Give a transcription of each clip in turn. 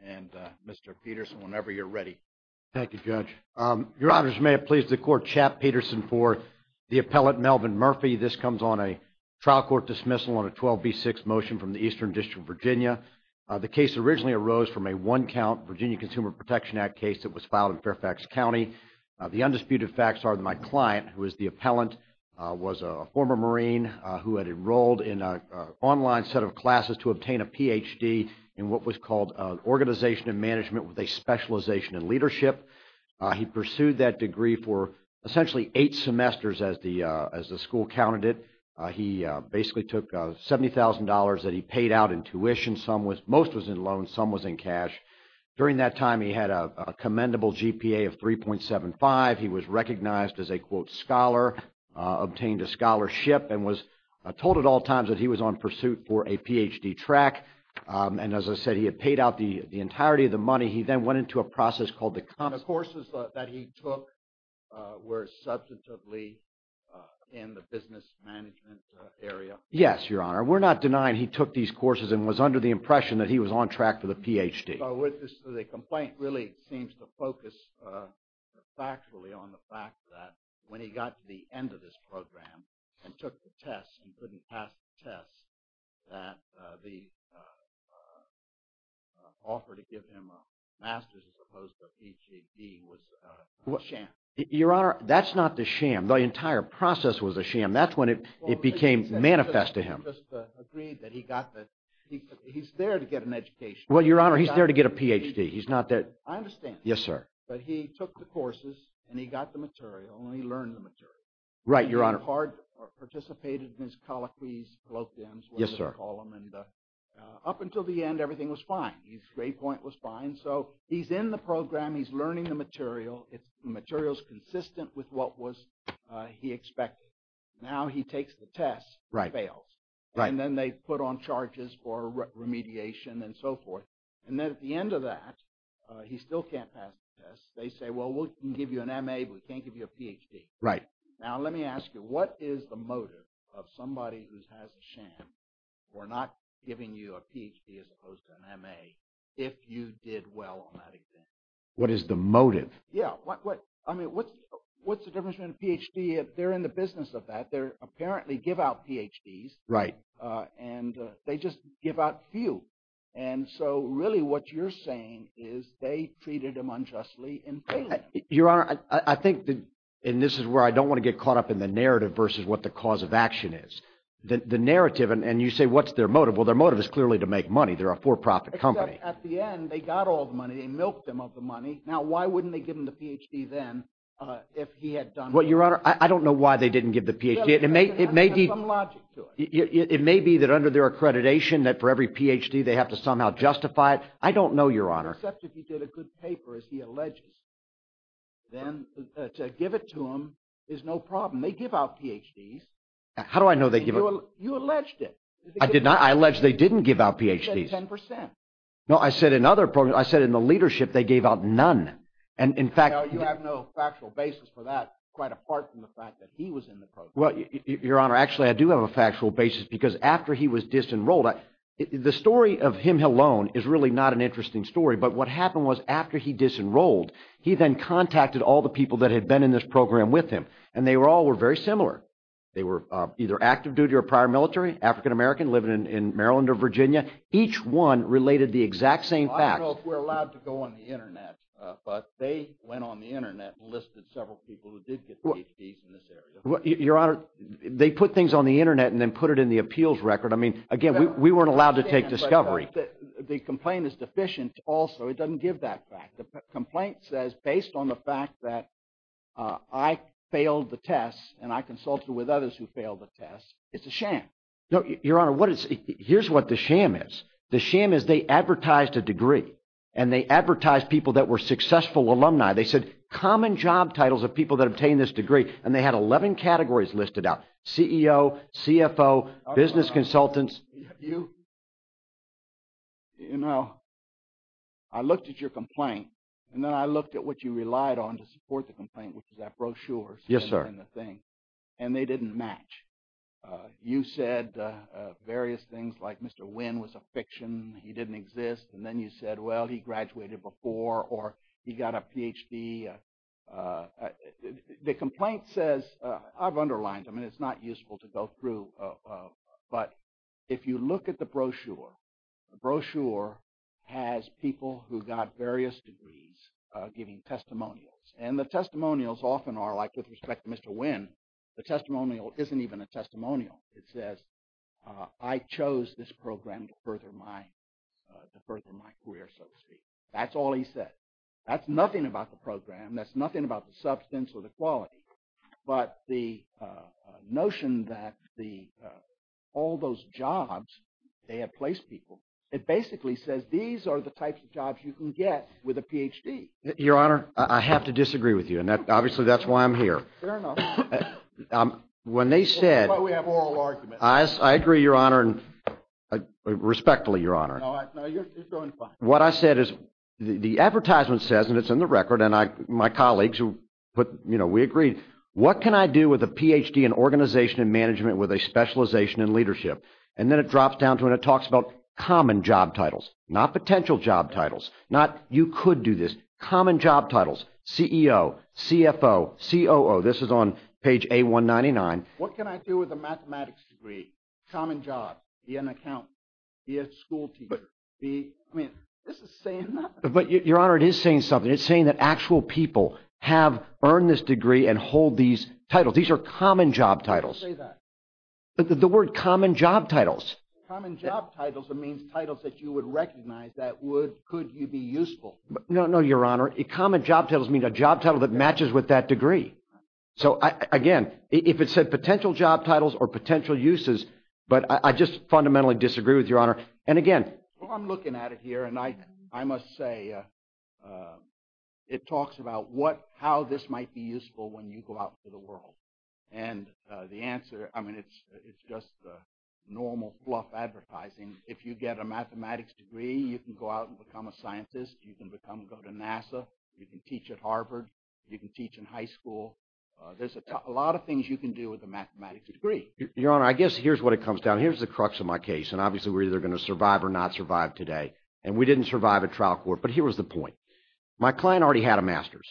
and Mr. Peterson, whenever you're ready. Thank you, Judge. Your honors, may it please the court, Chap Peterson for the appellate, Melvin Murphy. This comes on a trial court dismissal on a 12B6 motion from the Eastern District of Virginia. The case originally arose from a one-count Virginia Consumer Protection Act case that was filed in Fairfax County. The undisputed facts are that my client, who is the appellant, was a former Marine who had enrolled in an online set of classes to what was called an organization of management with a specialization in leadership. He pursued that degree for essentially eight semesters as the school counted it. He basically took $70,000 that he paid out in tuition. Most was in loans, some was in cash. During that time, he had a commendable GPA of 3.75. He was recognized as a, quote, scholar, obtained a scholarship, and was told at all times that he was on pursuit for a PhD track. And as I said, he had paid out the entirety of the money. He then went into a process called the... The courses that he took were substantively in the business management area. Yes, your honor. We're not denying he took these courses and was under the impression that he was on track for the PhD. The complaint really seems to focus factually on the fact that when he got to the end of this program and took the test, he couldn't pass the test, that the offer to give him a master's as opposed to a PhD was a sham. Your honor, that's not the sham. The entire process was a sham. That's when it became manifest to him. He just agreed that he got the... He's there to get an education. Well, your honor, he's there to get a PhD. He's not that... I understand. Yes, sir. But he took the part, participated in his colloquies, colloquiums, whatever you want to call them. And up until the end, everything was fine. His grade point was fine. So he's in the program. He's learning the material. The material's consistent with what he expected. Now he takes the test, fails. And then they put on charges for remediation and so forth. And then at the end of that, he still can't pass the test. They say, well, we can give you an MA, but we can't give you a PhD. Now let me ask you, what is the motive of somebody who has a sham for not giving you a PhD as opposed to an MA if you did well on that exam? What is the motive? Yeah. What's the difference between a PhD if they're in the business of that? They apparently give out PhDs and they just give out few. And so really what you're saying is they treated him unjustly. Your Honor, I think, and this is where I don't want to get caught up in the narrative versus what the cause of action is. The narrative, and you say, what's their motive? Well, their motive is clearly to make money. They're a for-profit company. Except at the end, they got all the money. They milked him of the money. Now why wouldn't they give him the PhD then if he had done well? Your Honor, I don't know why they didn't give the PhD. It may be that under their accreditation that for every PhD, they have to somehow justify it. I don't know, Your Honor. Except if he did a good paper, as he alleges, then to give it to him is no problem. They give out PhDs. How do I know they give it? You alleged it. I did not. I alleged they didn't give out PhDs. You said 10%. No, I said in other programs. I said in the leadership, they gave out none. And in fact- No, you have no factual basis for that quite apart from the fact that he was in the program. Well, Your Honor, actually, I do have a factual basis because after he was disenrolled, the story of him alone is really not an interesting story. But what happened was after he disenrolled, he then contacted all the people that had been in this program with him. And they all were very similar. They were either active duty or prior military, African-American, living in Maryland or Virginia. Each one related the exact same fact. I don't know if we're allowed to go on the internet, but they went on the internet and listed several people who did get PhDs in this area. Your Honor, they put things on the internet and then put it in the appeals record. I mean, again, we weren't allowed to take discovery. The complaint is deficient also. It doesn't give that fact. The complaint says, based on the fact that I failed the test and I consulted with others who failed the test, it's a sham. No, Your Honor, here's what the sham is. The sham is they advertised a degree and they advertised people that were successful alumni. They said common job titles of people that obtained this degree. And they had 11 categories listed out, CEO, CFO, business consultants. Your Honor, I looked at your complaint and then I looked at what you relied on to support the complaint, which is that brochure. Yes, sir. And they didn't match. You said various things like Mr. Wynn was a fiction, he didn't exist. And then you said, well, he graduated before or he got a PhD. The complaint says, I've underlined them and it's not useful to go through. But if you look at the brochure, the brochure has people who got various degrees giving testimonials. And the testimonials often are like with respect to Mr. Wynn, the testimonial isn't even a testimonial. It says, I chose this program to further my career, so to speak. That's all he said. That's nothing about the program. That's nothing about the substance or the quality. But the notion that all those jobs, they have placed people. It basically says, these are the types of jobs you can get with a PhD. Your Honor, I have to disagree with you. And obviously, that's why I'm here. Fair enough. When they said- That's why we have oral arguments. I agree, Your Honor, and respectfully, Your Honor. No, you're doing fine. What I said is, the advertisement says, and it's in the record, and my colleagues, we agreed, what can I do with a PhD in organization and management with a specialization in leadership? And then it drops down to when it talks about common job titles, not potential job titles, not you could do this, common job titles, CEO, CFO, COO. This is on page A199. What can I do with a mathematics degree, common job, be an accountant, be a school teacher? I mean, this is saying that- But Your Honor, it is saying something. It's saying that actual people have earned this degree and hold these titles. These are common job titles. Don't say that. The word common job titles. Common job titles means titles that you would recognize that would, could you be useful. No, no, Your Honor. Common job titles means a job title that matches with that degree. So again, if it said potential job titles or potential uses, but I just fundamentally disagree with Your Honor. And again- Well, I'm looking at it here, and I must say it talks about what, how this might be useful when you go out into the world. And the answer, I mean, it's just normal fluff advertising. If you get a mathematics degree, you can go out and become a scientist. You can become, go to NASA. You can teach at Harvard. You can teach in high school. There's a lot of things you can do with a mathematics degree. Your Honor, I guess here's what it comes down. Here's the crux of my case. And obviously, we're either going to survive or not survive today. And we didn't survive at trial court, but here was the point. My client already had a master's.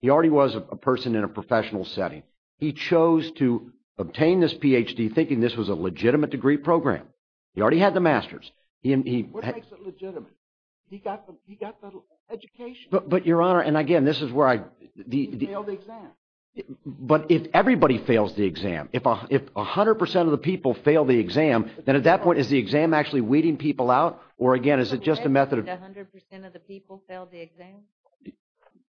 He already was a person in a professional setting. He chose to obtain this PhD thinking this was a legitimate degree program. He already had the master's. He- What makes it legitimate? He got the education. But Your Honor, and again, this is where I- He failed the exam. But if everybody fails the exam, if 100% of the people fail the exam, then at that point, is the exam actually weeding people out? Or again, is it just a method of- Did you allege that 100% of the people failed the exam?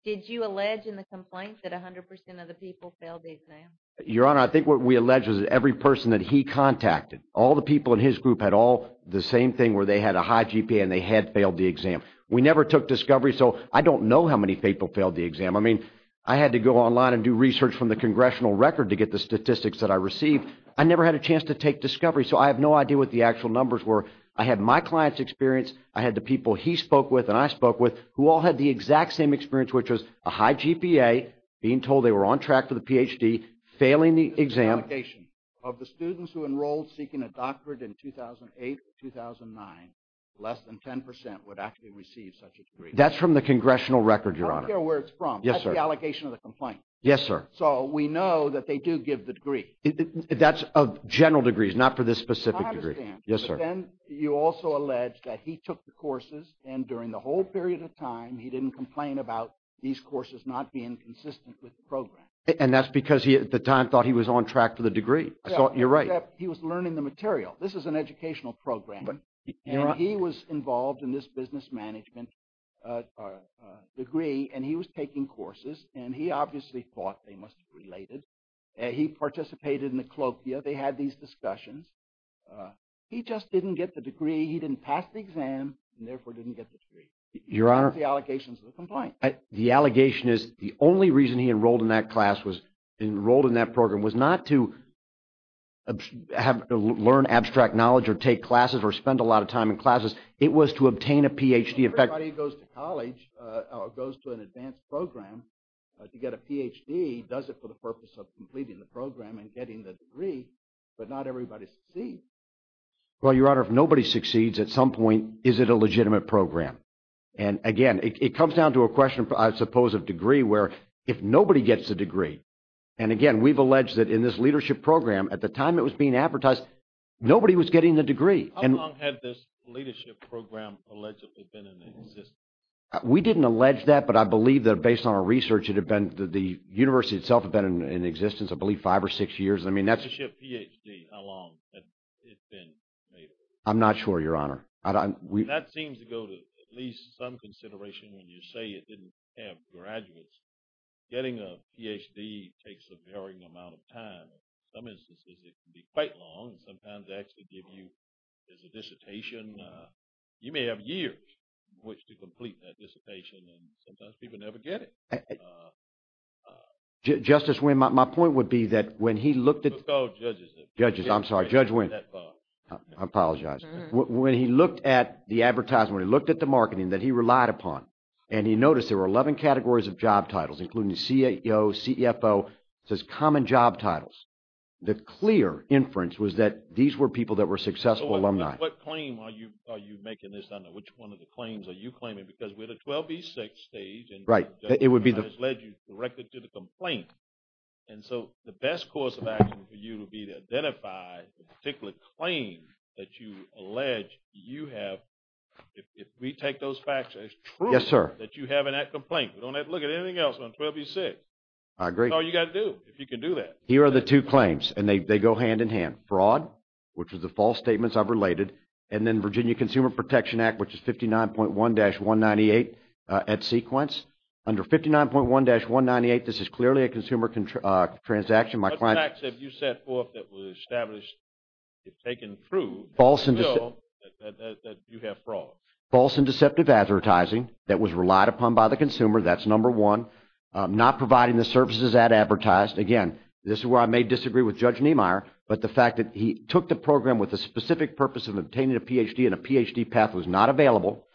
Did you allege in the complaint that 100% of the people failed the exam? Your Honor, I think what we allege is that every person that he contacted, all the people in his group had all the same thing where they had a high GPA and they had failed the exam. We never took discovery, so I don't know how many people failed the exam. I mean, I had to go online and do research from the congressional record to get the statistics that I received. I never had a chance to take discovery, so I have no idea what the actual numbers were. I had my client's experience. I had the people he spoke with and I spoke with who all had the exact same experience, which was a high GPA, being told they were on track for the PhD, failing the exam. This is an allegation. Of the students who enrolled seeking a doctorate in 2008 or 2009, less than 10% would actually receive such a degree. That's from the congressional record, Your Honor. I don't care where it's from. Yes, sir. That's the allegation of the complaint. Yes, sir. So we know that they do give the degree. That's of general degrees, not for this specific degree. I understand. Yes, sir. Then you also allege that he took the courses and during the whole period of time, he didn't complain about these courses not being consistent with the program. And that's because he, at the time, thought he was on track for the degree. I thought you're right. He was learning the material. This is an educational program. And he was involved in this business management degree, and he was taking courses, and he obviously thought they must have related. He participated in the colloquia. They had these discussions. He just didn't get the degree. He didn't pass the exam, and therefore didn't get the degree. Your Honor. That's the allegations of the complaint. The allegation is the only reason he enrolled in that class, was enrolled in that program, was not to learn abstract knowledge, or take classes, or spend a lot of time in classes. It was to obtain a Ph.D. Everybody who goes to college, or goes to an advanced program to get a Ph.D., does it for the purpose of completing the program and getting the degree, but not everybody succeeds. Well, Your Honor, if nobody succeeds, at some point, is it a legitimate program? And again, it comes down to a question, I suppose, of degree, where if nobody gets the degree, and again, we've alleged that in this leadership program, at the time it was being advertised, nobody was getting the degree. How long had this leadership program allegedly been in existence? We didn't allege that, but I believe that based on our research, it had been, the university itself had been in existence, I believe, five or six years. Leadership Ph.D., how long had it been? I'm not sure, Your Honor. That seems to go to at least some amount of time. In some instances, it can be quite long, and sometimes they actually give you, there's a dissertation, you may have years in which to complete that dissertation, and sometimes people never get it. Justice Wynn, my point would be that when he looked at... Let's call judges. Judges, I'm sorry, Judge Wynn. I apologize. When he looked at the advertisement, he looked at the marketing that he relied upon, and he noticed there were 11 categories of job titles, common job titles. The clear inference was that these were people that were successful alumni. What claim are you making this under? Which one of the claims are you claiming? Because we're at a 12B6 stage, and the judge has led you directly to the complaint, and so the best course of action for you would be to identify the particular claim that you allege you have, if we take those facts as true, that you have in that complaint. Don't have to look at anything else on 12B6. I agree. That's all you got to do, if you can do that. Here are the two claims, and they go hand in hand. Fraud, which is the false statements I've related, and then Virginia Consumer Protection Act, which is 59.1-198 at sequence. Under 59.1-198, this is clearly a consumer transaction. What facts have you set forth that was established, if taken true, that you have fraud? False and deceptive advertising that was relied upon by the consumer. That's number one. Not providing the services that advertised. Again, this is where I may disagree with Judge Niemeyer, but the fact that he took the program with the specific purpose of obtaining a Ph.D. and a Ph.D. path was not available.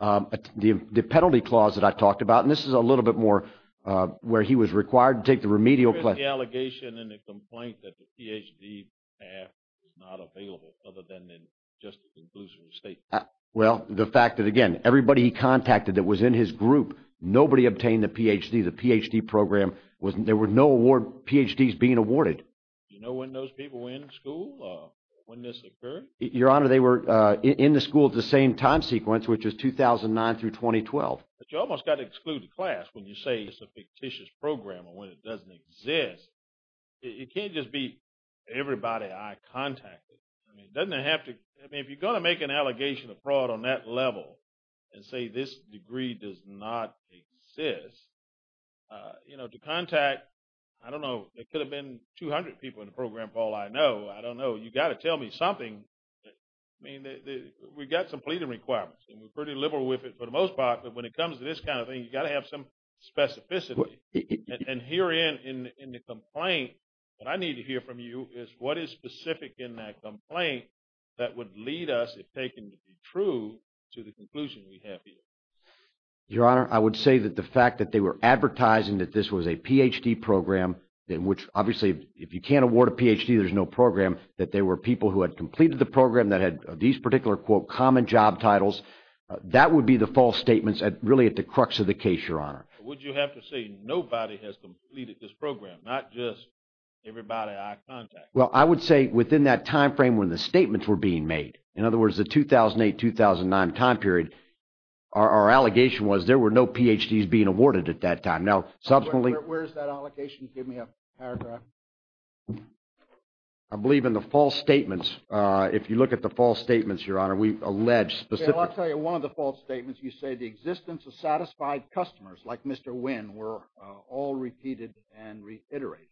The penalty clause that I talked about, and this is a little bit more, where he was required to take the remedial... Where is the allegation in the complaint that the Ph.D. path was not available, other than in just the conclusion of the statement? Well, the fact that, again, everybody he contacted that was in his group, nobody obtained the Ph.D. The Ph.D. program, there were no Ph.D.s being awarded. Do you know when those people were in school, or when this occurred? Your Honor, they were in the school at the same time sequence, which was 2009 through 2012. But you almost got to exclude the class when you say it's a fictitious program, or when it doesn't exist. It can't just be everybody I contacted. I mean, doesn't it have to... I mean, if you're going to make an allegation of fraud on that level, and say this degree does not exist, you know, to contact, I don't know, it could have been 200 people in the program, Paul, I know. I don't know. You got to tell me something. I mean, we got some pleading requirements, and we're pretty liberal with it for the most part, but when it comes to this kind of thing, you got to have some specificity. And here in the complaint, what I need to hear from you is what is specific in that complaint that would lead us, if taken to be true, to the conclusion we have here. Your Honor, I would say that the fact that they were advertising that this was a Ph.D. program, in which, obviously, if you can't award a Ph.D., there's no program, that there were people who had completed the program that had these particular, quote, common job titles, that would be the false statements, really at the crux of the case, Your Honor. Would you have to say nobody has completed this program, not just everybody I contact? Well, I would say within that time frame when the statements were being made, in other words, the 2008-2009 time period, our allegation was there were no Ph.D.s being awarded at that time. Now, subsequently... Where's that allegation? Give me a paragraph. I believe in the false statements. If you look at the false statements, Your Honor, we've alleged specific... Well, I'll tell you one of the false statements. You say the existence of satisfied customers, like Mr. Wynne, were all repeated and reiterated.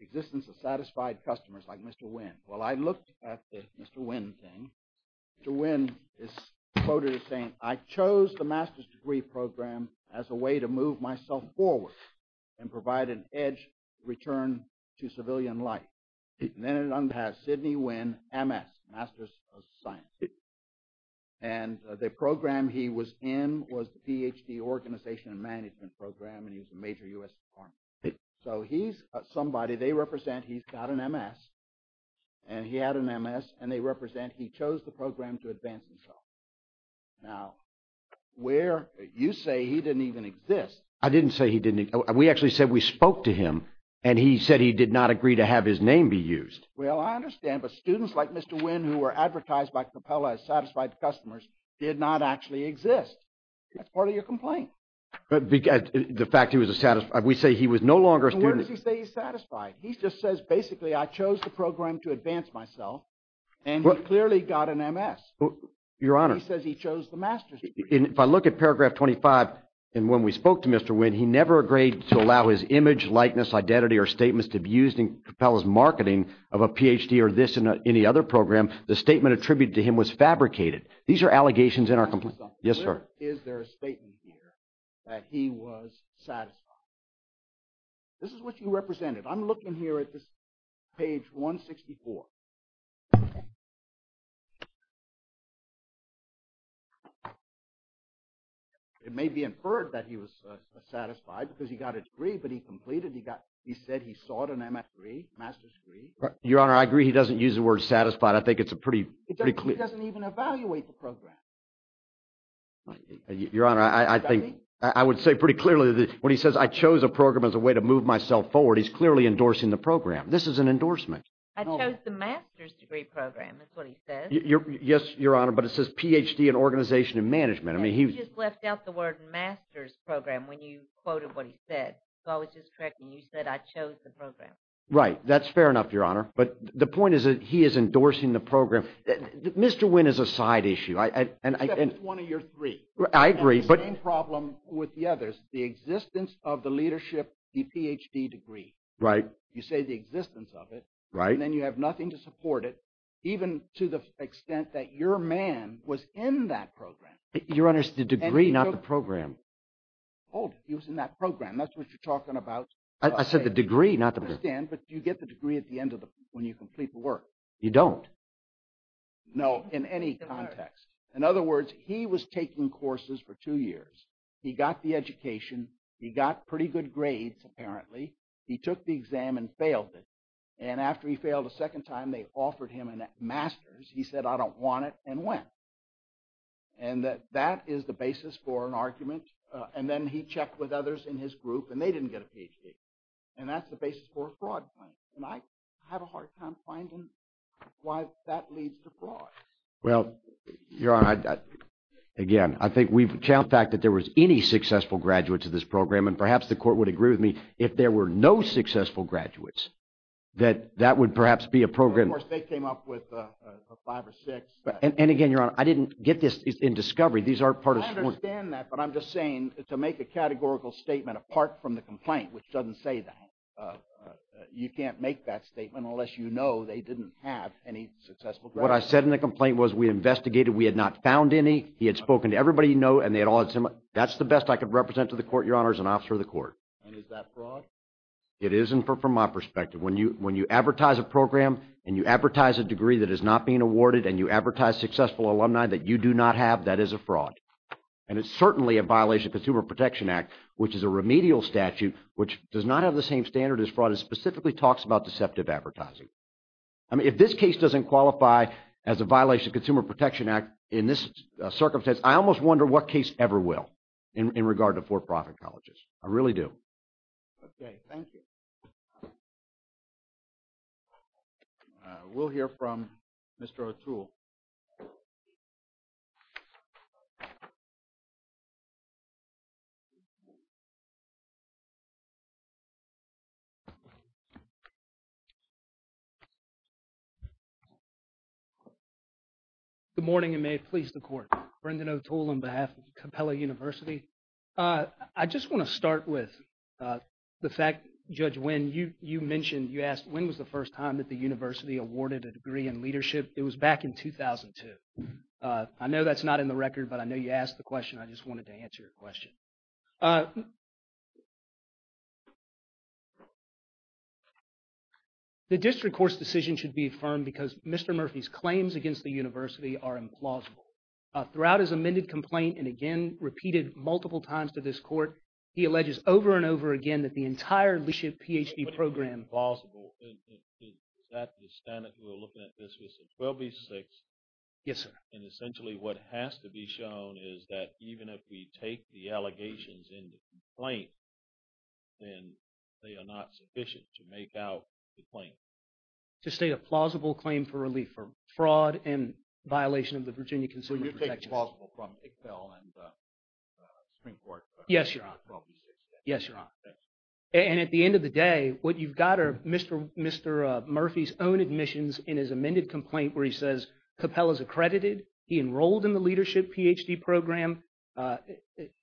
Existence of satisfied customers, like Mr. Wynne. Well, I looked at the Mr. Wynne thing. Mr. Wynne is quoted as saying, I chose the Master's Degree Program as a way to move myself forward and provide an edge return to civilian life. And then it underpass Sidney Wynne, M.S., Master's of Science. And the program he was in was the Ph.D. Organization and Management Program, and he was a major U.S. department. So he's somebody they represent. He's got an M.S., and he had an M.S., and they represent he chose the program to advance himself. Now, where you say he didn't even exist... I didn't say he didn't... We actually said we spoke to him, and he said he did not agree to have his name be used. Well, I understand, but students like Mr. Wynne who were advertised by Coppola as satisfied customers did not actually exist. That's part of your complaint. The fact he was a satisfied... We say he was no longer a student. And where does he say he's satisfied? He just says, basically, I chose the program to advance myself, and he clearly got an M.S. Your Honor. He says he chose the Master's Degree. And if I look at paragraph 25, and when we spoke to Mr. Wynne, he never agreed to allow his image, likeness, identity, or statements to be used in Coppola's marketing of a Ph.D. or this and any other program. The statement attributed to him was fabricated. These are allegations in our complaint. Yes, sir. Is there a statement here that he was satisfied? This is what you represented. I'm looking here at this page 164. It may be inferred that he was satisfied because he got a degree, but he completed. He got... He said he sought an M.S. Degree, Master's Degree. Your Honor, I agree. He doesn't use the word satisfied. I think it's a pretty... He doesn't even evaluate the program. Your Honor, I think... I would say pretty clearly that when he says, I chose a program as a way to move myself forward, he's clearly endorsing the program. This is an endorsement. I chose the Master's Degree program, is what he says. Yes, Your Honor, but it says Ph.D. in Organization and Management. He just left out the word Master's Program when you quoted what he said. So I was just correcting you. You said, I chose the program. Right. That's fair enough, Your Honor. But the point is that he is endorsing the program. Mr. Wynn is a side issue. Except it's one of your three. I agree, but... And the same problem with the others, the existence of the leadership, the Ph.D. degree. Right. You say the existence of it. Right. And then you have nothing to support it, even to the extent that your man was in that program. Your Honor, it's the degree, not the program. He was in that program. That's what you're talking about. I said the degree, not the program. I understand, but you get the degree at the end of the... When you complete the work. You don't. No, in any context. In other words, he was taking courses for two years. He got the education. He got pretty good grades, apparently. He took the exam and failed it. And after he failed a second time, they offered him a Master's. He said, I don't want it, and went. And that is the basis for an argument. And then he checked with others in his group, and they didn't get a Ph.D. And that's the basis for a fraud claim. And I have a hard time finding why that leads to fraud. Well, Your Honor, again, I think we've... The fact that there was any successful graduates of this program, and perhaps the court would agree with me, if there were no successful graduates, that that would perhaps be a program... Of course, they came up with a five or six. And again, Your Honor, I didn't get this in discovery. These are part of... I understand that, but I'm just saying, to make a categorical statement apart from the complaint, which doesn't say that, you can't make that statement unless you know they didn't have any successful graduates. What I said in the complaint was, we investigated. We had not found any. He had spoken to everybody you know, and they had all had similar... That's the best I could represent to the court, Your Honor, as an officer of the court. And is that fraud? It isn't from my perspective. When you advertise a program, and you advertise a degree that is not being awarded, and you advertise successful alumni that you do not have, that is a fraud. And it's certainly a violation of Consumer Protection Act, which is a remedial statute, which does not have the same standard as fraud, and specifically talks about deceptive advertising. I mean, if this case doesn't qualify as a violation of Consumer Protection Act in this circumstance, I almost wonder what case ever will, in regard to for-profit colleges. I really do. Okay. Thank you. We'll hear from Mr. O'Toole. Good morning, and may it please the Court. Brendan O'Toole, on behalf of Capella University. I just want to start with the fact, Judge Winn, you mentioned, you asked, when was the first time that the university awarded a degree in leadership? It was back in I just wanted to answer your question. The District Court's decision should be affirmed because Mr. Murphy's claims against the university are implausible. Throughout his amended complaint, and again, repeated multiple times to this Court, he alleges over and over again that the entire leadership PhD program... But it's implausible. Is that the standard? We're looking at this case in 12-B-6. Yes, sir. And essentially, what has to be shown is that even if we take the allegations in the complaint, then they are not sufficient to make out the claim. To state a plausible claim for relief for fraud and violation of the Virginia Consumer Protection... Will you take the plausible from Iqbal and the Supreme Court? Yes, Your Honor. Yes, Your Honor. And at the end of the day, what you've got are Mr. Murphy's own admissions in his amended complaint where he says Capel is accredited. He enrolled in the leadership PhD program.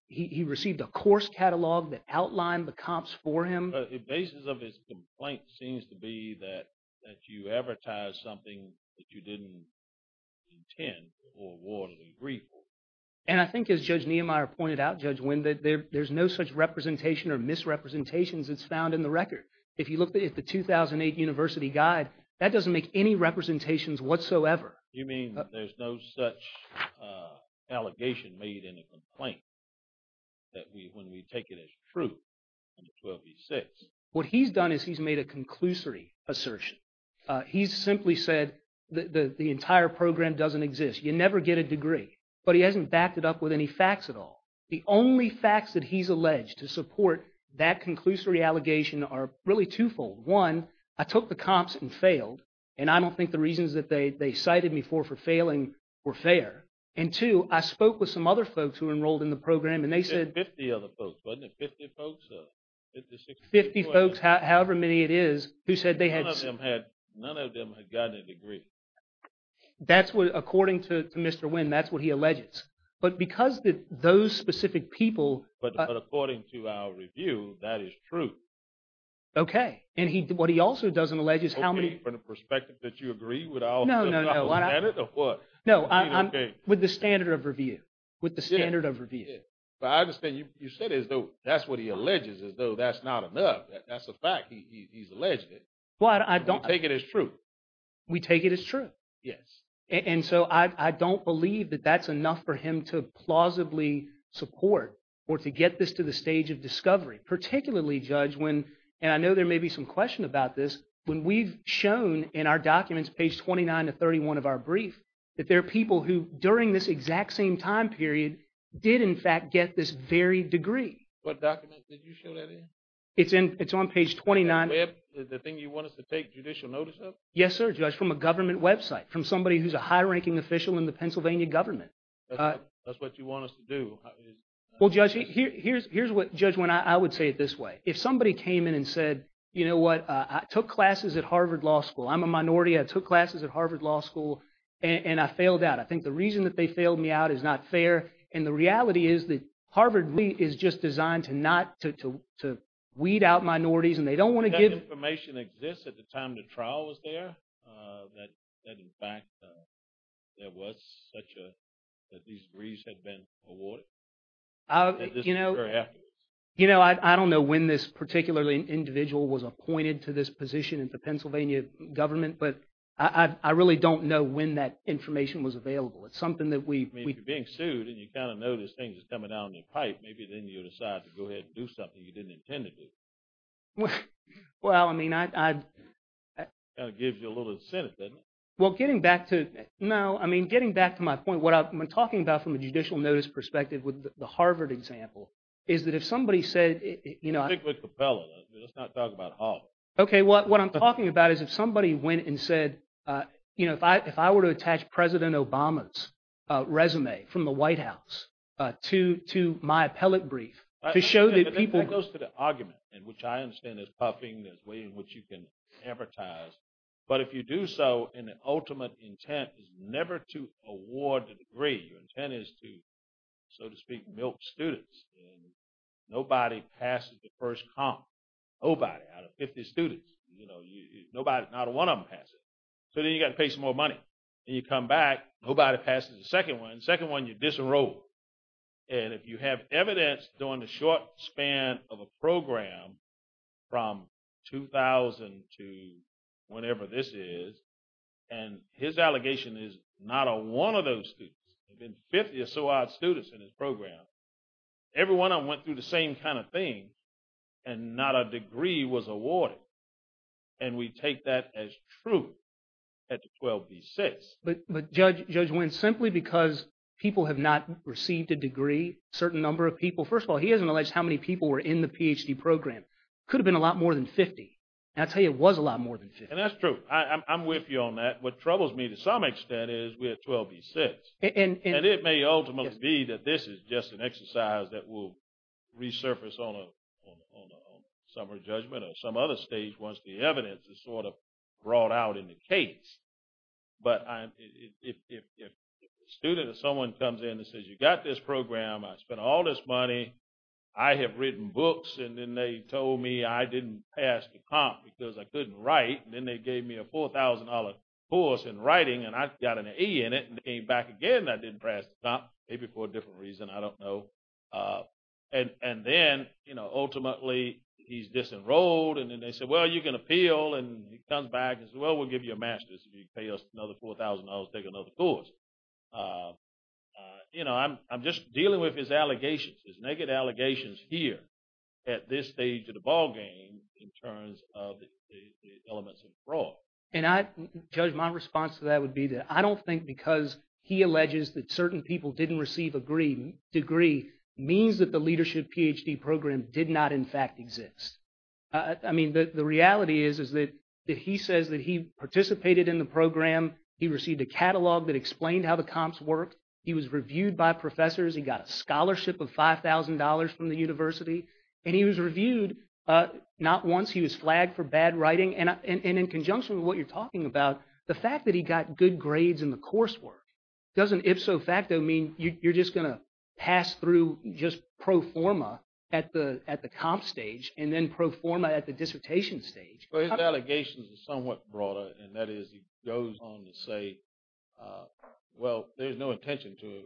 He received a course catalog that outlined the comps for him. But the basis of his complaint seems to be that you advertised something that you didn't intend to award a degree for. And I think as Judge Niemeyer pointed out, Judge Wynn, that there's no such representation or misrepresentations that's found in the record. If you look at the 2008 university guide, that doesn't make any representations whatsoever. You mean there's no such allegation made in a complaint that we, when we take it as true under 12b-6? What he's done is he's made a conclusory assertion. He's simply said that the entire program doesn't exist. You never get a degree. But he hasn't backed it up with any facts at all. The only facts that he's alleged to support that conclusory allegation are really twofold. One, I took the comps and failed, and I don't think the reasons that they cited me for, for failing, were fair. And two, I spoke with some other folks who enrolled in the program and they said... You said 50 other folks, wasn't it? 50 folks? 50 folks, however many it is, who said they had... None of them had gotten a degree. That's what, according to Mr. Wynn, that's what he alleges. But because those specific people... But according to our review, that is true. Okay. And he, what he also doesn't allege is how many... From the perspective that you agree with all... No, no, no. No, I'm with the standard of review, with the standard of review. But I understand you said as though that's what he alleges, as though that's not enough. That's a fact. He's alleged it. Well, I don't... We take it as true. We take it as true. Yes. And so I don't believe that that's enough for him to plausibly support or to get this to the stage of discovery, particularly, Judge, when, and I know there may be some question about this, when we've shown in our documents, page 29 to 31 of our brief, that there are people who during this exact same time period did, in fact, get this very degree. What document did you show that in? It's in, it's on page 29. The web, the thing you want us to take judicial notice of? Yes, sir, Judge, from a government website, from somebody who's a high-ranking official in the Pennsylvania government. That's what you want us to do? Well, Judge, here's what, Judge, when I would say it this way. If somebody came in and said, you know what, I took classes at Harvard Law School, I'm a minority, I took classes at Harvard Law School, and I failed out. I think the reason that they failed me out is not fair. And the reality is that Harvard is just designed to not, to weed out minorities, and they don't want to give... That information exists at the time the trial was there, that, in fact, there was such a, that these degrees had been awarded? You know, I don't know when this particular individual was appointed to this position in the Pennsylvania government, but I really don't know when that information was available. It's something that we... I mean, if you're being sued and you kind of know this thing is coming down the pipe, maybe then you decide to go ahead and do something you didn't intend to do. Well, I mean, I'd... Kind of gives you a little incentive, doesn't it? Well, getting back to, no, I mean, getting back to my point, what I'm talking about from a judicial notice perspective with the Harvard example is that if somebody said, you know... I think with the appellate, let's not talk about Harvard. Okay, what I'm talking about is if somebody went and said, you know, if I were to attach President Obama's resume from the White House to my appellate brief to show that people... I think that goes to the argument, in which I understand there's puffing, which you can advertise. But if you do so, and the ultimate intent is never to award the degree. Your intent is to, so to speak, milk students. Nobody passes the first comp. Nobody out of 50 students, you know, nobody, not one of them passes. So then you got to pay some more money. Then you come back, nobody passes the second one. Second one, you disenroll. And if you have evidence during the short span of a program from 2000 to whenever this is, and his allegation is not a one of those students. There have been 50 or so odd students in his program. Everyone went through the same kind of thing, and not a degree was awarded. And we take that as truth at the 12B6. But Judge Wentz, simply because people have not received a degree, certain number of people. First of all, he hasn't alleged how many people were in the PhD program. Could have been a lot more than 50. And I'll tell you, it was a lot more than 50. And that's true. I'm with you on that. What troubles me to some extent is we're at 12B6. And it may ultimately be that this is just an exercise that will resurface on a summer judgment or some other stage once the evidence is sort of brought out in the case. But if a student or someone comes in and says, you got this program. I spent all this money. I have written books. And then they told me I didn't pass the comp because I couldn't write. And then they gave me a $4,000 course in writing. And I got an E in it and came back again. I didn't pass the comp. Maybe for a different reason. I don't know. And then, ultimately, he's disenrolled. And then they said, well, you can appeal. And he comes back and says, well, we'll give you a master's. You can pay us another $4,000 to take another course. You know, I'm just dealing with his allegations, his naked allegations here at this stage of the ballgame in terms of the elements of fraud. And I, Judge, my response to that would be that I don't think because he alleges that certain people didn't receive a degree means that the leadership PhD program did not, in fact, exist. I mean, the reality is that he says that he participated in the program. He received a catalog that explained how the comps worked. He was reviewed by professors. He got a scholarship of $5,000 from the university. And he was reviewed not once. He was flagged for bad writing. And in conjunction with what you're talking about, the fact that he got good grades in the coursework doesn't ipso facto mean you're just going to pass through just pro forma at the comp stage and then pro forma at the dissertation stage? Well, his allegations are somewhat broader. And that is he goes on to say, well, there's no intention to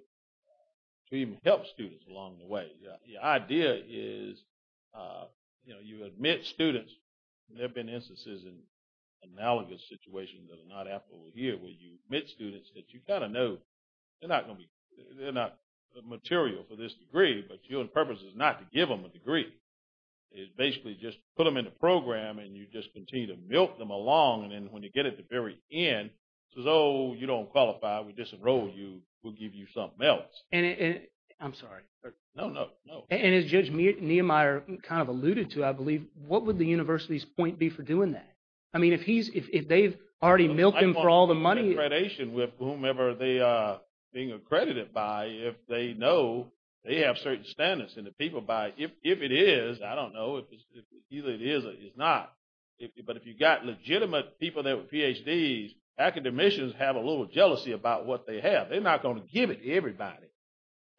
even help students along the way. The idea is, you know, you admit students. There have been instances in analogous situations that are not applicable here where you admit students that you kind of know they're not going to be, they're not material for this degree. But your purpose is not to give them a degree. It's basically just put them in the program and you just continue to milk them along. And then when you get at the very end, he says, oh, you don't qualify. We disenroll you. We'll give you something else. And I'm sorry. No, no, no. And as Judge Niemeyer kind of alluded to, I believe, what would the university's point be for doing that? I mean, if he's, if they've already milked him for all the money. With whomever they are being accredited by, if they know they have certain standards in the people by, if it is, I don't know if it's either it is or it's not. But if you've got legitimate people that were PhDs, academicians have a little jealousy about what they have. They're not going to give it to everybody.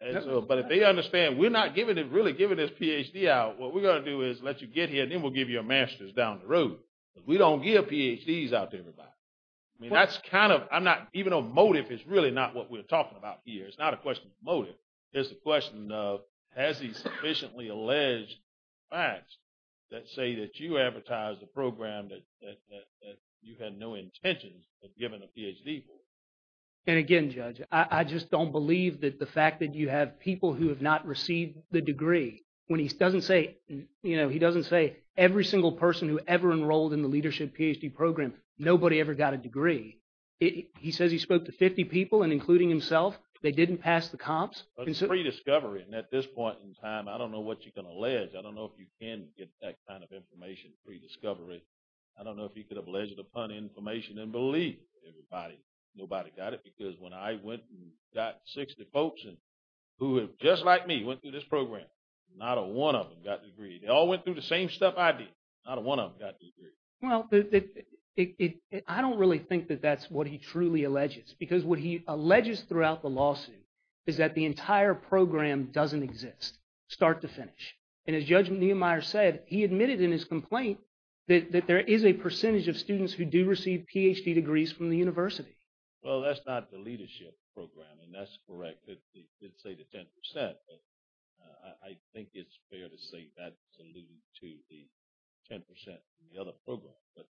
But if they understand we're not giving it, really giving this PhD out, what we're going to do is let you get here and then we'll give you a master's down the road. But we don't give PhDs out to everybody. I mean, that's kind of, I'm not, even though motive is really not what we're talking about here. It's not a question of motive. It's a question of, has he sufficiently alleged facts that say that you advertise the program that you had no intentions of giving a PhD for? And again, Judge, I just don't believe that the fact that you have people who have not received the degree, when he doesn't say, you know, he doesn't say every single person who ever enrolled in the leadership PhD program, nobody ever got a degree. He says he spoke to 50 people and including himself. They didn't pass the comps. It's a rediscovery. And at this point in time, I don't know what you can allege. I don't know if you can get that kind of information, rediscovery. I don't know if he could have alleged upon information and believe everybody. Nobody got it. Because when I went and got 60 folks and who just like me went through this program, not a one of them got a degree. They all went through the same stuff I did. Not a one of them got a degree. Well, I don't really think that that's what he truly alleges. Because what he alleges throughout the lawsuit is that the entire program doesn't exist, start to finish. And as Judge Niemeyer said, he admitted in his complaint that there is a percentage of students who do receive PhD degrees from the university. Well, that's not the leadership program. And that's correct. It's say the 10%. But I think it's fair to say that's alluding to the 10% in the other program. But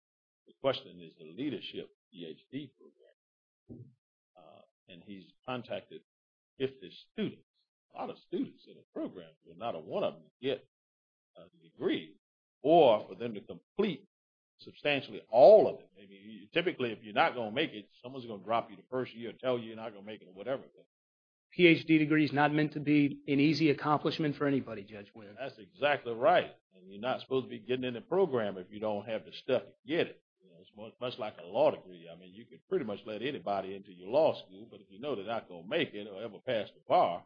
the question is the leadership PhD program. And he's contacted 50 students. A lot of students in the program, not a one of them get a degree or for them to complete substantially all of it. I mean, typically, if you're not going to make it, someone's going to drop you the first year and tell you you're not going to make it or whatever. PhD degree is not meant to be an easy accomplishment for anybody, Judge Winn. That's exactly right. And you're not supposed to be getting in the program if you don't have the stuff to get it. It's much like a law degree. I mean, you could pretty much let anybody into your law school. But if you know they're not going to make it or ever pass the bar,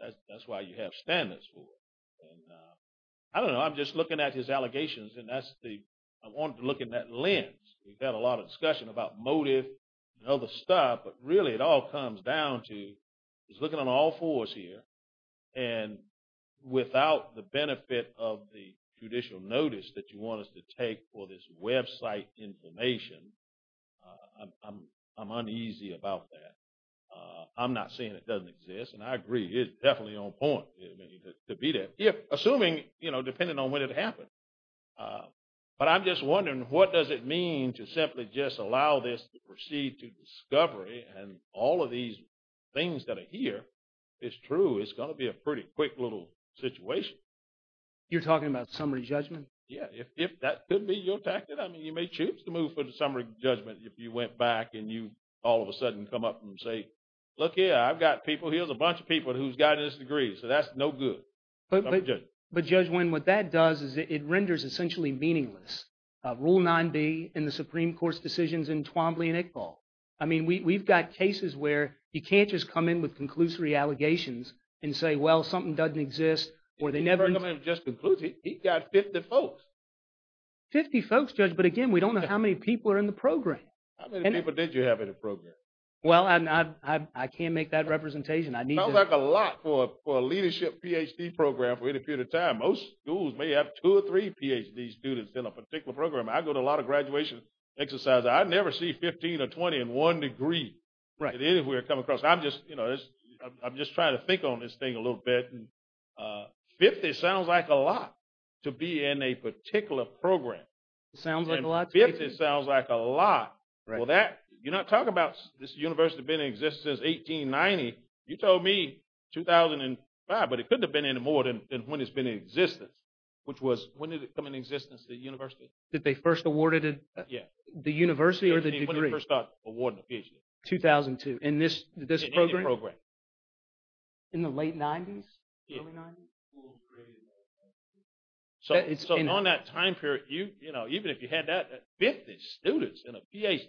that's why you have standards for it. And I don't know. I'm just looking at his allegations. And I want to look in that lens. We've had a lot of discussion about motive and other stuff. But really, it all comes down to just looking on all fours here. And without the benefit of the judicial notice that you want us to take for this website information, I'm uneasy about that. I'm not saying it doesn't exist. And I agree. It's definitely on point to be there, assuming, you know, depending on when it happened. But I'm just wondering, what does it mean to simply just allow this to proceed to discovery and all of these things that are here is true? It's going to be a pretty quick little situation. You're talking about summary judgment? Yeah, if that could be your tactic. I mean, you may choose to move for the summary judgment if you went back and you all of a sudden come up and say, look here, I've got people, here's a bunch of people who's got this degree. So that's no good. But Judge Nguyen, what that does is it renders essentially meaningless. Rule 9b in the Supreme Court's decisions in Twombly and Iqbal. I mean, we've got cases where you can't just come in with conclusory allegations and say, well, something doesn't exist, or they never- He didn't come in just conclusively. He got 50 folks. 50 folks, Judge. But again, we don't know how many people are in the program. How many people did you have in the program? Well, I can't make that representation. Sounds like a lot for a leadership PhD program for any period of time. Most schools may have two or three PhD students in a particular program. I go to a lot of graduation exercises. I never see 15 or 20 in one degree anywhere come across. I'm just trying to think on this thing a little bit. 50 sounds like a lot to be in a particular program. It sounds like a lot to me. 50 sounds like a lot. Well, you're not talking about this university being in existence since 1890. You told me 2005, but it couldn't have been any more than when it's been in existence, which was when did it come in existence, the university? Did they first award it? Yeah. The university or the degree? When did they first start awarding the PhD? 2002. In this program? In any program. In the late 90s? Early 90s? So on that time period, even if you had that, 50 students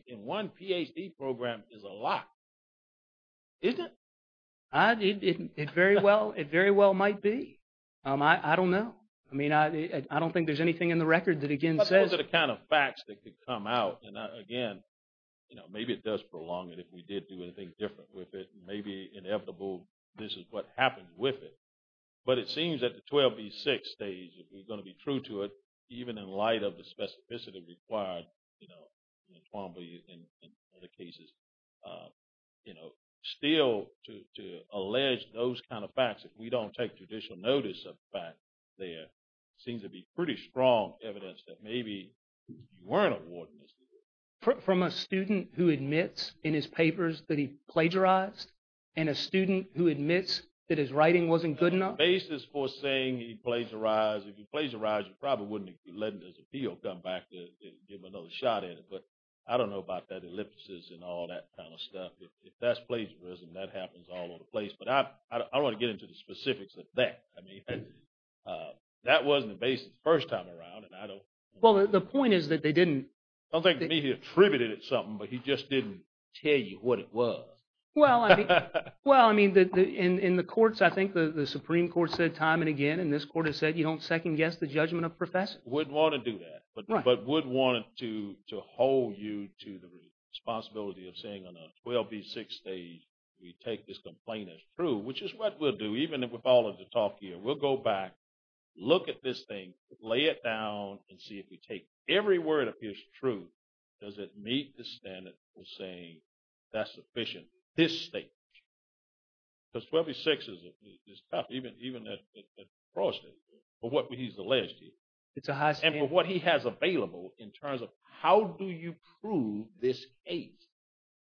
in one PhD program is a lot. Isn't it? It very well might be. I don't know. I mean, I don't think there's anything in the record that, again, says- But those are the kind of facts that could come out. And again, maybe it does prolong it if we did do anything different with it. Maybe inevitable, this is what happens with it. But it seems that the 12B6 stage, if we're going to be true to it, even in light of the specificity required, you know, in other cases, you know, still to allege those kind of facts, if we don't take judicial notice of the fact, there seems to be pretty strong evidence that maybe you weren't awarding this degree. From a student who admits in his papers that he plagiarized? And a student who admits that his writing wasn't good enough? The basis for saying he plagiarized, if he plagiarized, he probably wouldn't have let his appeal come back to give another shot at it. But I don't know about that ellipsis and all that kind of stuff. If that's plagiarism, that happens all over the place. But I don't want to get into the specifics of that. I mean, that wasn't the basis the first time around. And I don't- Well, the point is that they didn't- Don't think to me he attributed it to something, but he just didn't tell you what it was. Well, I mean, in the courts, I think the Supreme Court said time and again, and this court has said, you don't second guess the judgment of professors. Wouldn't want to do that. But would want to hold you to the responsibility of saying on a 12B6 stage, we take this complaint as true, which is what we'll do, even if we're following the talk here. We'll go back, look at this thing, lay it down, and see if we take every word of his truth. Does it meet the standard of saying that's sufficient this stage? Because 12B6 is tough, even at the pro stage, for what he's alleged to do. It's a high- In terms of how do you prove this case?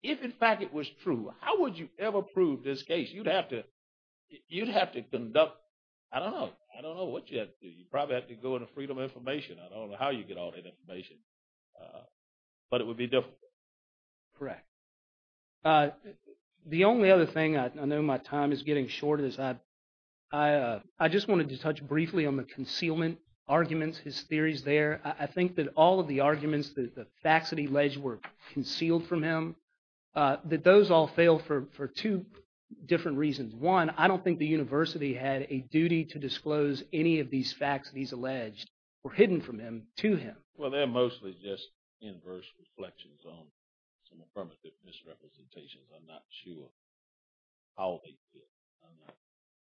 If, in fact, it was true, how would you ever prove this case? You'd have to conduct- I don't know. I don't know what you have to do. You probably have to go into freedom of information. I don't know how you get all that information. But it would be difficult. Correct. The only other thing, I know my time is getting short, is I just wanted to touch briefly on the concealment arguments, his theories there. I think that all of the arguments, the facts that he alleged were concealed from him, that those all fail for two different reasons. One, I don't think the university had a duty to disclose any of these facts that he's alleged were hidden from him to him. Well, they're mostly just inverse reflections on some affirmative misrepresentations. I'm not sure how they fit.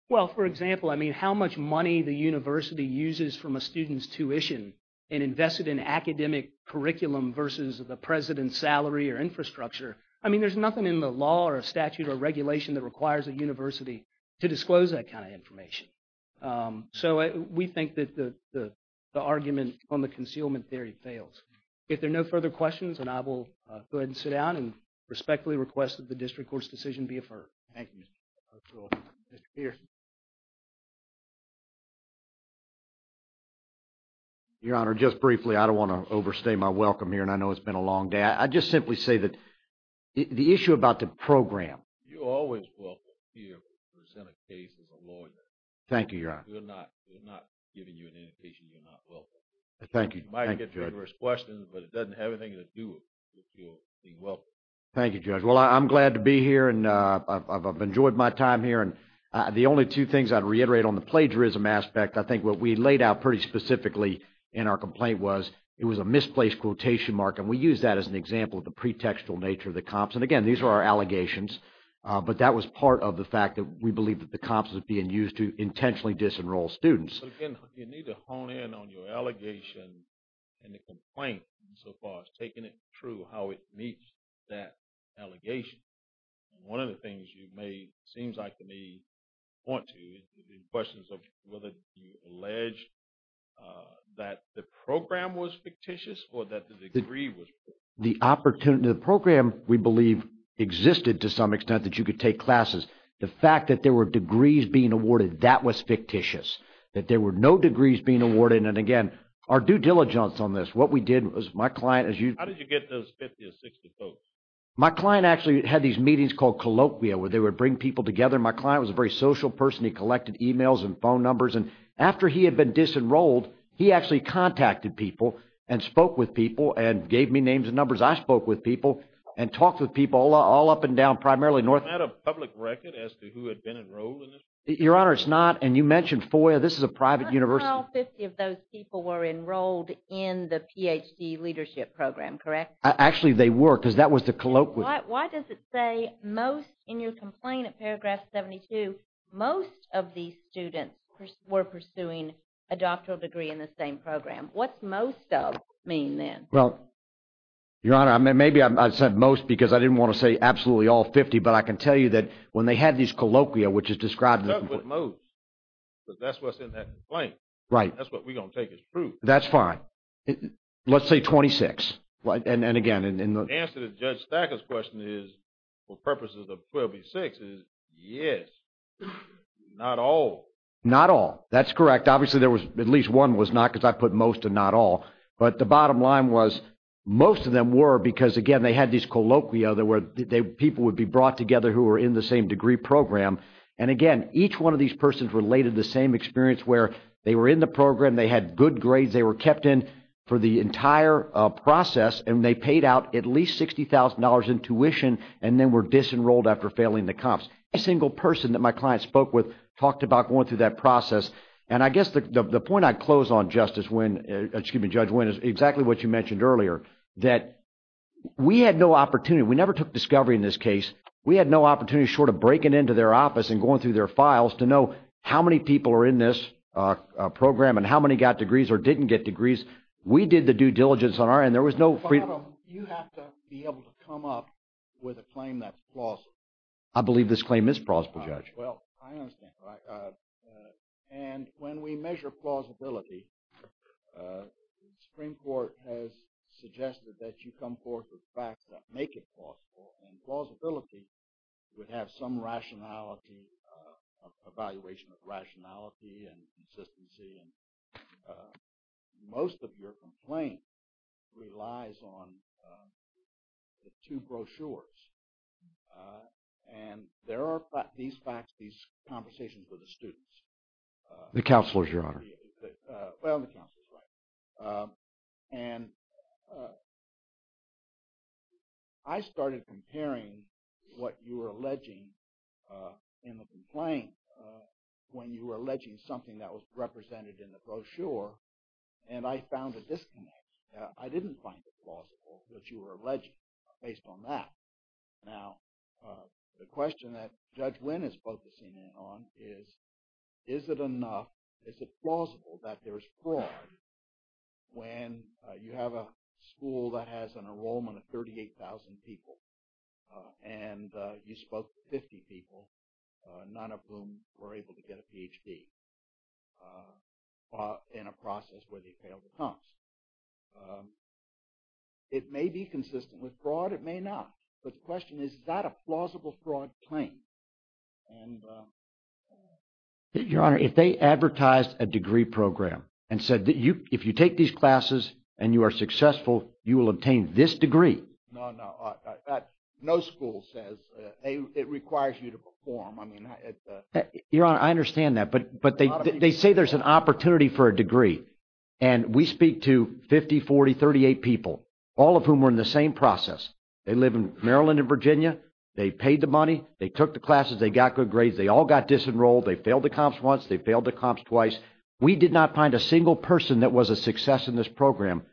Well, for example, I mean, how much money the university uses from a student's tuition and invested in academic curriculum versus the president's salary or infrastructure. I mean, there's nothing in the law or a statute or regulation that requires a university to disclose that kind of information. So we think that the argument on the concealment theory fails. If there are no further questions, then I will go ahead and sit down and respectfully request that the district court's decision be affirmed. Thank you, Mr. O'Toole. Mr. Pearson. Your Honor, just briefly, I don't want to overstay my welcome here, and I know it's been a long day. I just simply say that the issue about the program. You're always welcome here to present a case as a lawyer. Thank you, Your Honor. We're not giving you an indication you're not welcome here. Thank you. You might get rigorous questions, but it doesn't have anything to do with your being welcome. Thank you, Judge. Well, I'm glad to be here, and I've enjoyed my time here. And the only two things I'd reiterate on the plagiarism aspect, I think what we laid out pretty specifically in our complaint was, it was a misplaced quotation mark, and we use that as an example of the pretextual nature of the comps. And again, these are our allegations, but that was part of the fact that we believe that the comps is being used to intentionally disenroll students. But again, you need to hone in on your allegation and the complaint so far as taking it through how it meets that allegation. One of the things you may, seems like you may want to, the questions of whether you allege that the program was fictitious or that the degree was fictitious. The opportunity, the program, we believe, existed to some extent that you could take classes. The fact that there were degrees being awarded, that was fictitious, that there were no degrees being awarded. And again, our due diligence on this, what we did was my client, as you- How did you get those 50 or 60 votes? My client actually had these meetings called colloquia, where they would bring people together. My client was a very social person. He collected emails and phone numbers. And after he had been disenrolled, he actually contacted people and spoke with people and gave me names and numbers. I spoke with people and talked with people all up and down, primarily North- Is that a public record as to who had been enrolled in this program? Your Honor, it's not. And you mentioned FOIA. This is a private university. How about 50 of those people were enrolled in the PhD leadership program, correct? Actually, they were, because that was the colloquia. Why does it say most in your complaint at paragraph 72, most of these students were pursuing a doctoral degree in the same program? What's most of mean then? Well, Your Honor, maybe I said most because I didn't want to say absolutely all 50. But I can tell you that when they had these colloquia, which is described- It starts with most. That's what's in that complaint. Right. That's what we're going to take as proof. That's fine. Let's say 26. And again, in the- For purposes of 26, yes, not all. Not all. That's correct. Obviously, there was at least one was not because I put most and not all. But the bottom line was most of them were because, again, they had these colloquia. People would be brought together who were in the same degree program. And again, each one of these persons related the same experience where they were in the program. They had good grades. They were kept in for the entire process. And they paid out at least $60,000 in tuition. And then were disenrolled after failing the comps. A single person that my client spoke with talked about going through that process. And I guess the point I close on, Justice Wynn, excuse me, Judge Wynn, is exactly what you mentioned earlier, that we had no opportunity. We never took discovery in this case. We had no opportunity short of breaking into their office and going through their files to know how many people are in this program and how many got degrees or didn't get degrees. We did the due diligence on our end. You have to be able to come up with a claim that's plausible. I believe this claim is plausible, Judge. Well, I understand. And when we measure plausibility, the Supreme Court has suggested that you come forth with facts that make it plausible. And plausibility would have some rationality, evaluation of rationality and consistency. And most of your complaint relies on the two brochures. And there are these facts, these conversations with the students. The counselors, Your Honor. Well, the counselors, right. And I started comparing what you were alleging in the complaint when you were alleging something that was represented in the brochure. And I found a disconnect. I didn't find it plausible what you were alleging based on that. Now, the question that Judge Wynn is focusing in on is, is it enough, is it plausible that there is fraud when you have a school that has an enrollment of 38,000 people and you spoke to 50 people, none of whom were able to get a Ph.D. in a process where they failed the comps? It may be consistent with fraud, it may not. But the question is, is that a plausible fraud claim? And Your Honor, if they advertised a degree program and said that if you take these classes and you are successful, you will obtain this degree. No, no, no school says it requires you to perform. I mean, Your Honor, I understand that. But they say there's an opportunity for a degree. And we speak to 50, 40, 38 people, all of whom were in the same process. They live in Maryland and Virginia. They paid the money. They took the classes. They got good grades. They all got disenrolled. They failed the comps once. They failed the comps twice. We did not find a single person that was a success in this program.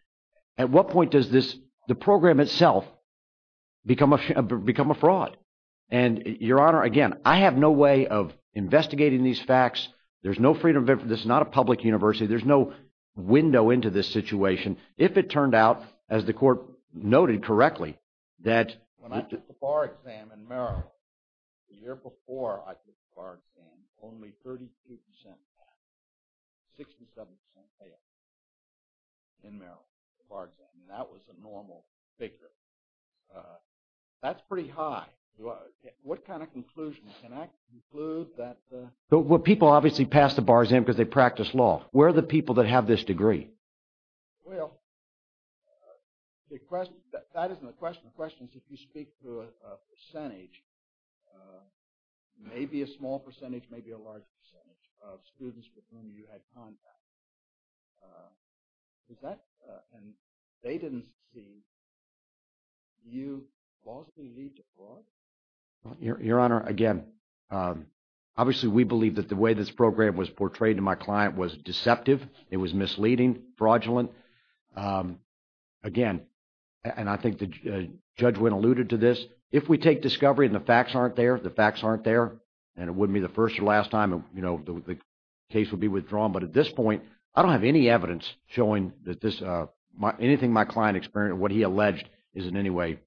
At what point does this, the program itself, become a fraud? And Your Honor, again, I have no way of investigating these facts. There's no freedom of information. This is not a public university. There's no window into this situation. If it turned out, as the court noted correctly, that... When I took the bar exam in Maryland, the year before I took the bar exam, only 32% passed. 67% failed in Maryland, the bar exam. That was a normal figure. That's pretty high. What kind of conclusion? Can I conclude that... Well, people obviously pass the bar exam because they practice law. Where are the people that have this degree? Well, that isn't the question. The question is, if you speak to a percentage, maybe a small percentage, maybe a large percentage, of students with whom you had contact, is that... And they didn't see you falsely lead to fraud? Your Honor, again, obviously, we believe that the way this program was portrayed to my client was deceptive. It was misleading, fraudulent. Again, and I think the judge went alluded to this. If we take discovery and the facts aren't there, the facts aren't there, and it wouldn't be the first or last time the case would be withdrawn. But at this point, I don't have any evidence showing that this... Anything my client experienced, what he alleged, is in any way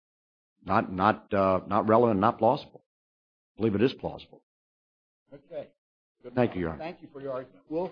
not relevant, not plausible. I believe it is plausible. Okay. Thank you, Your Honor. Thank you for your argument, Will.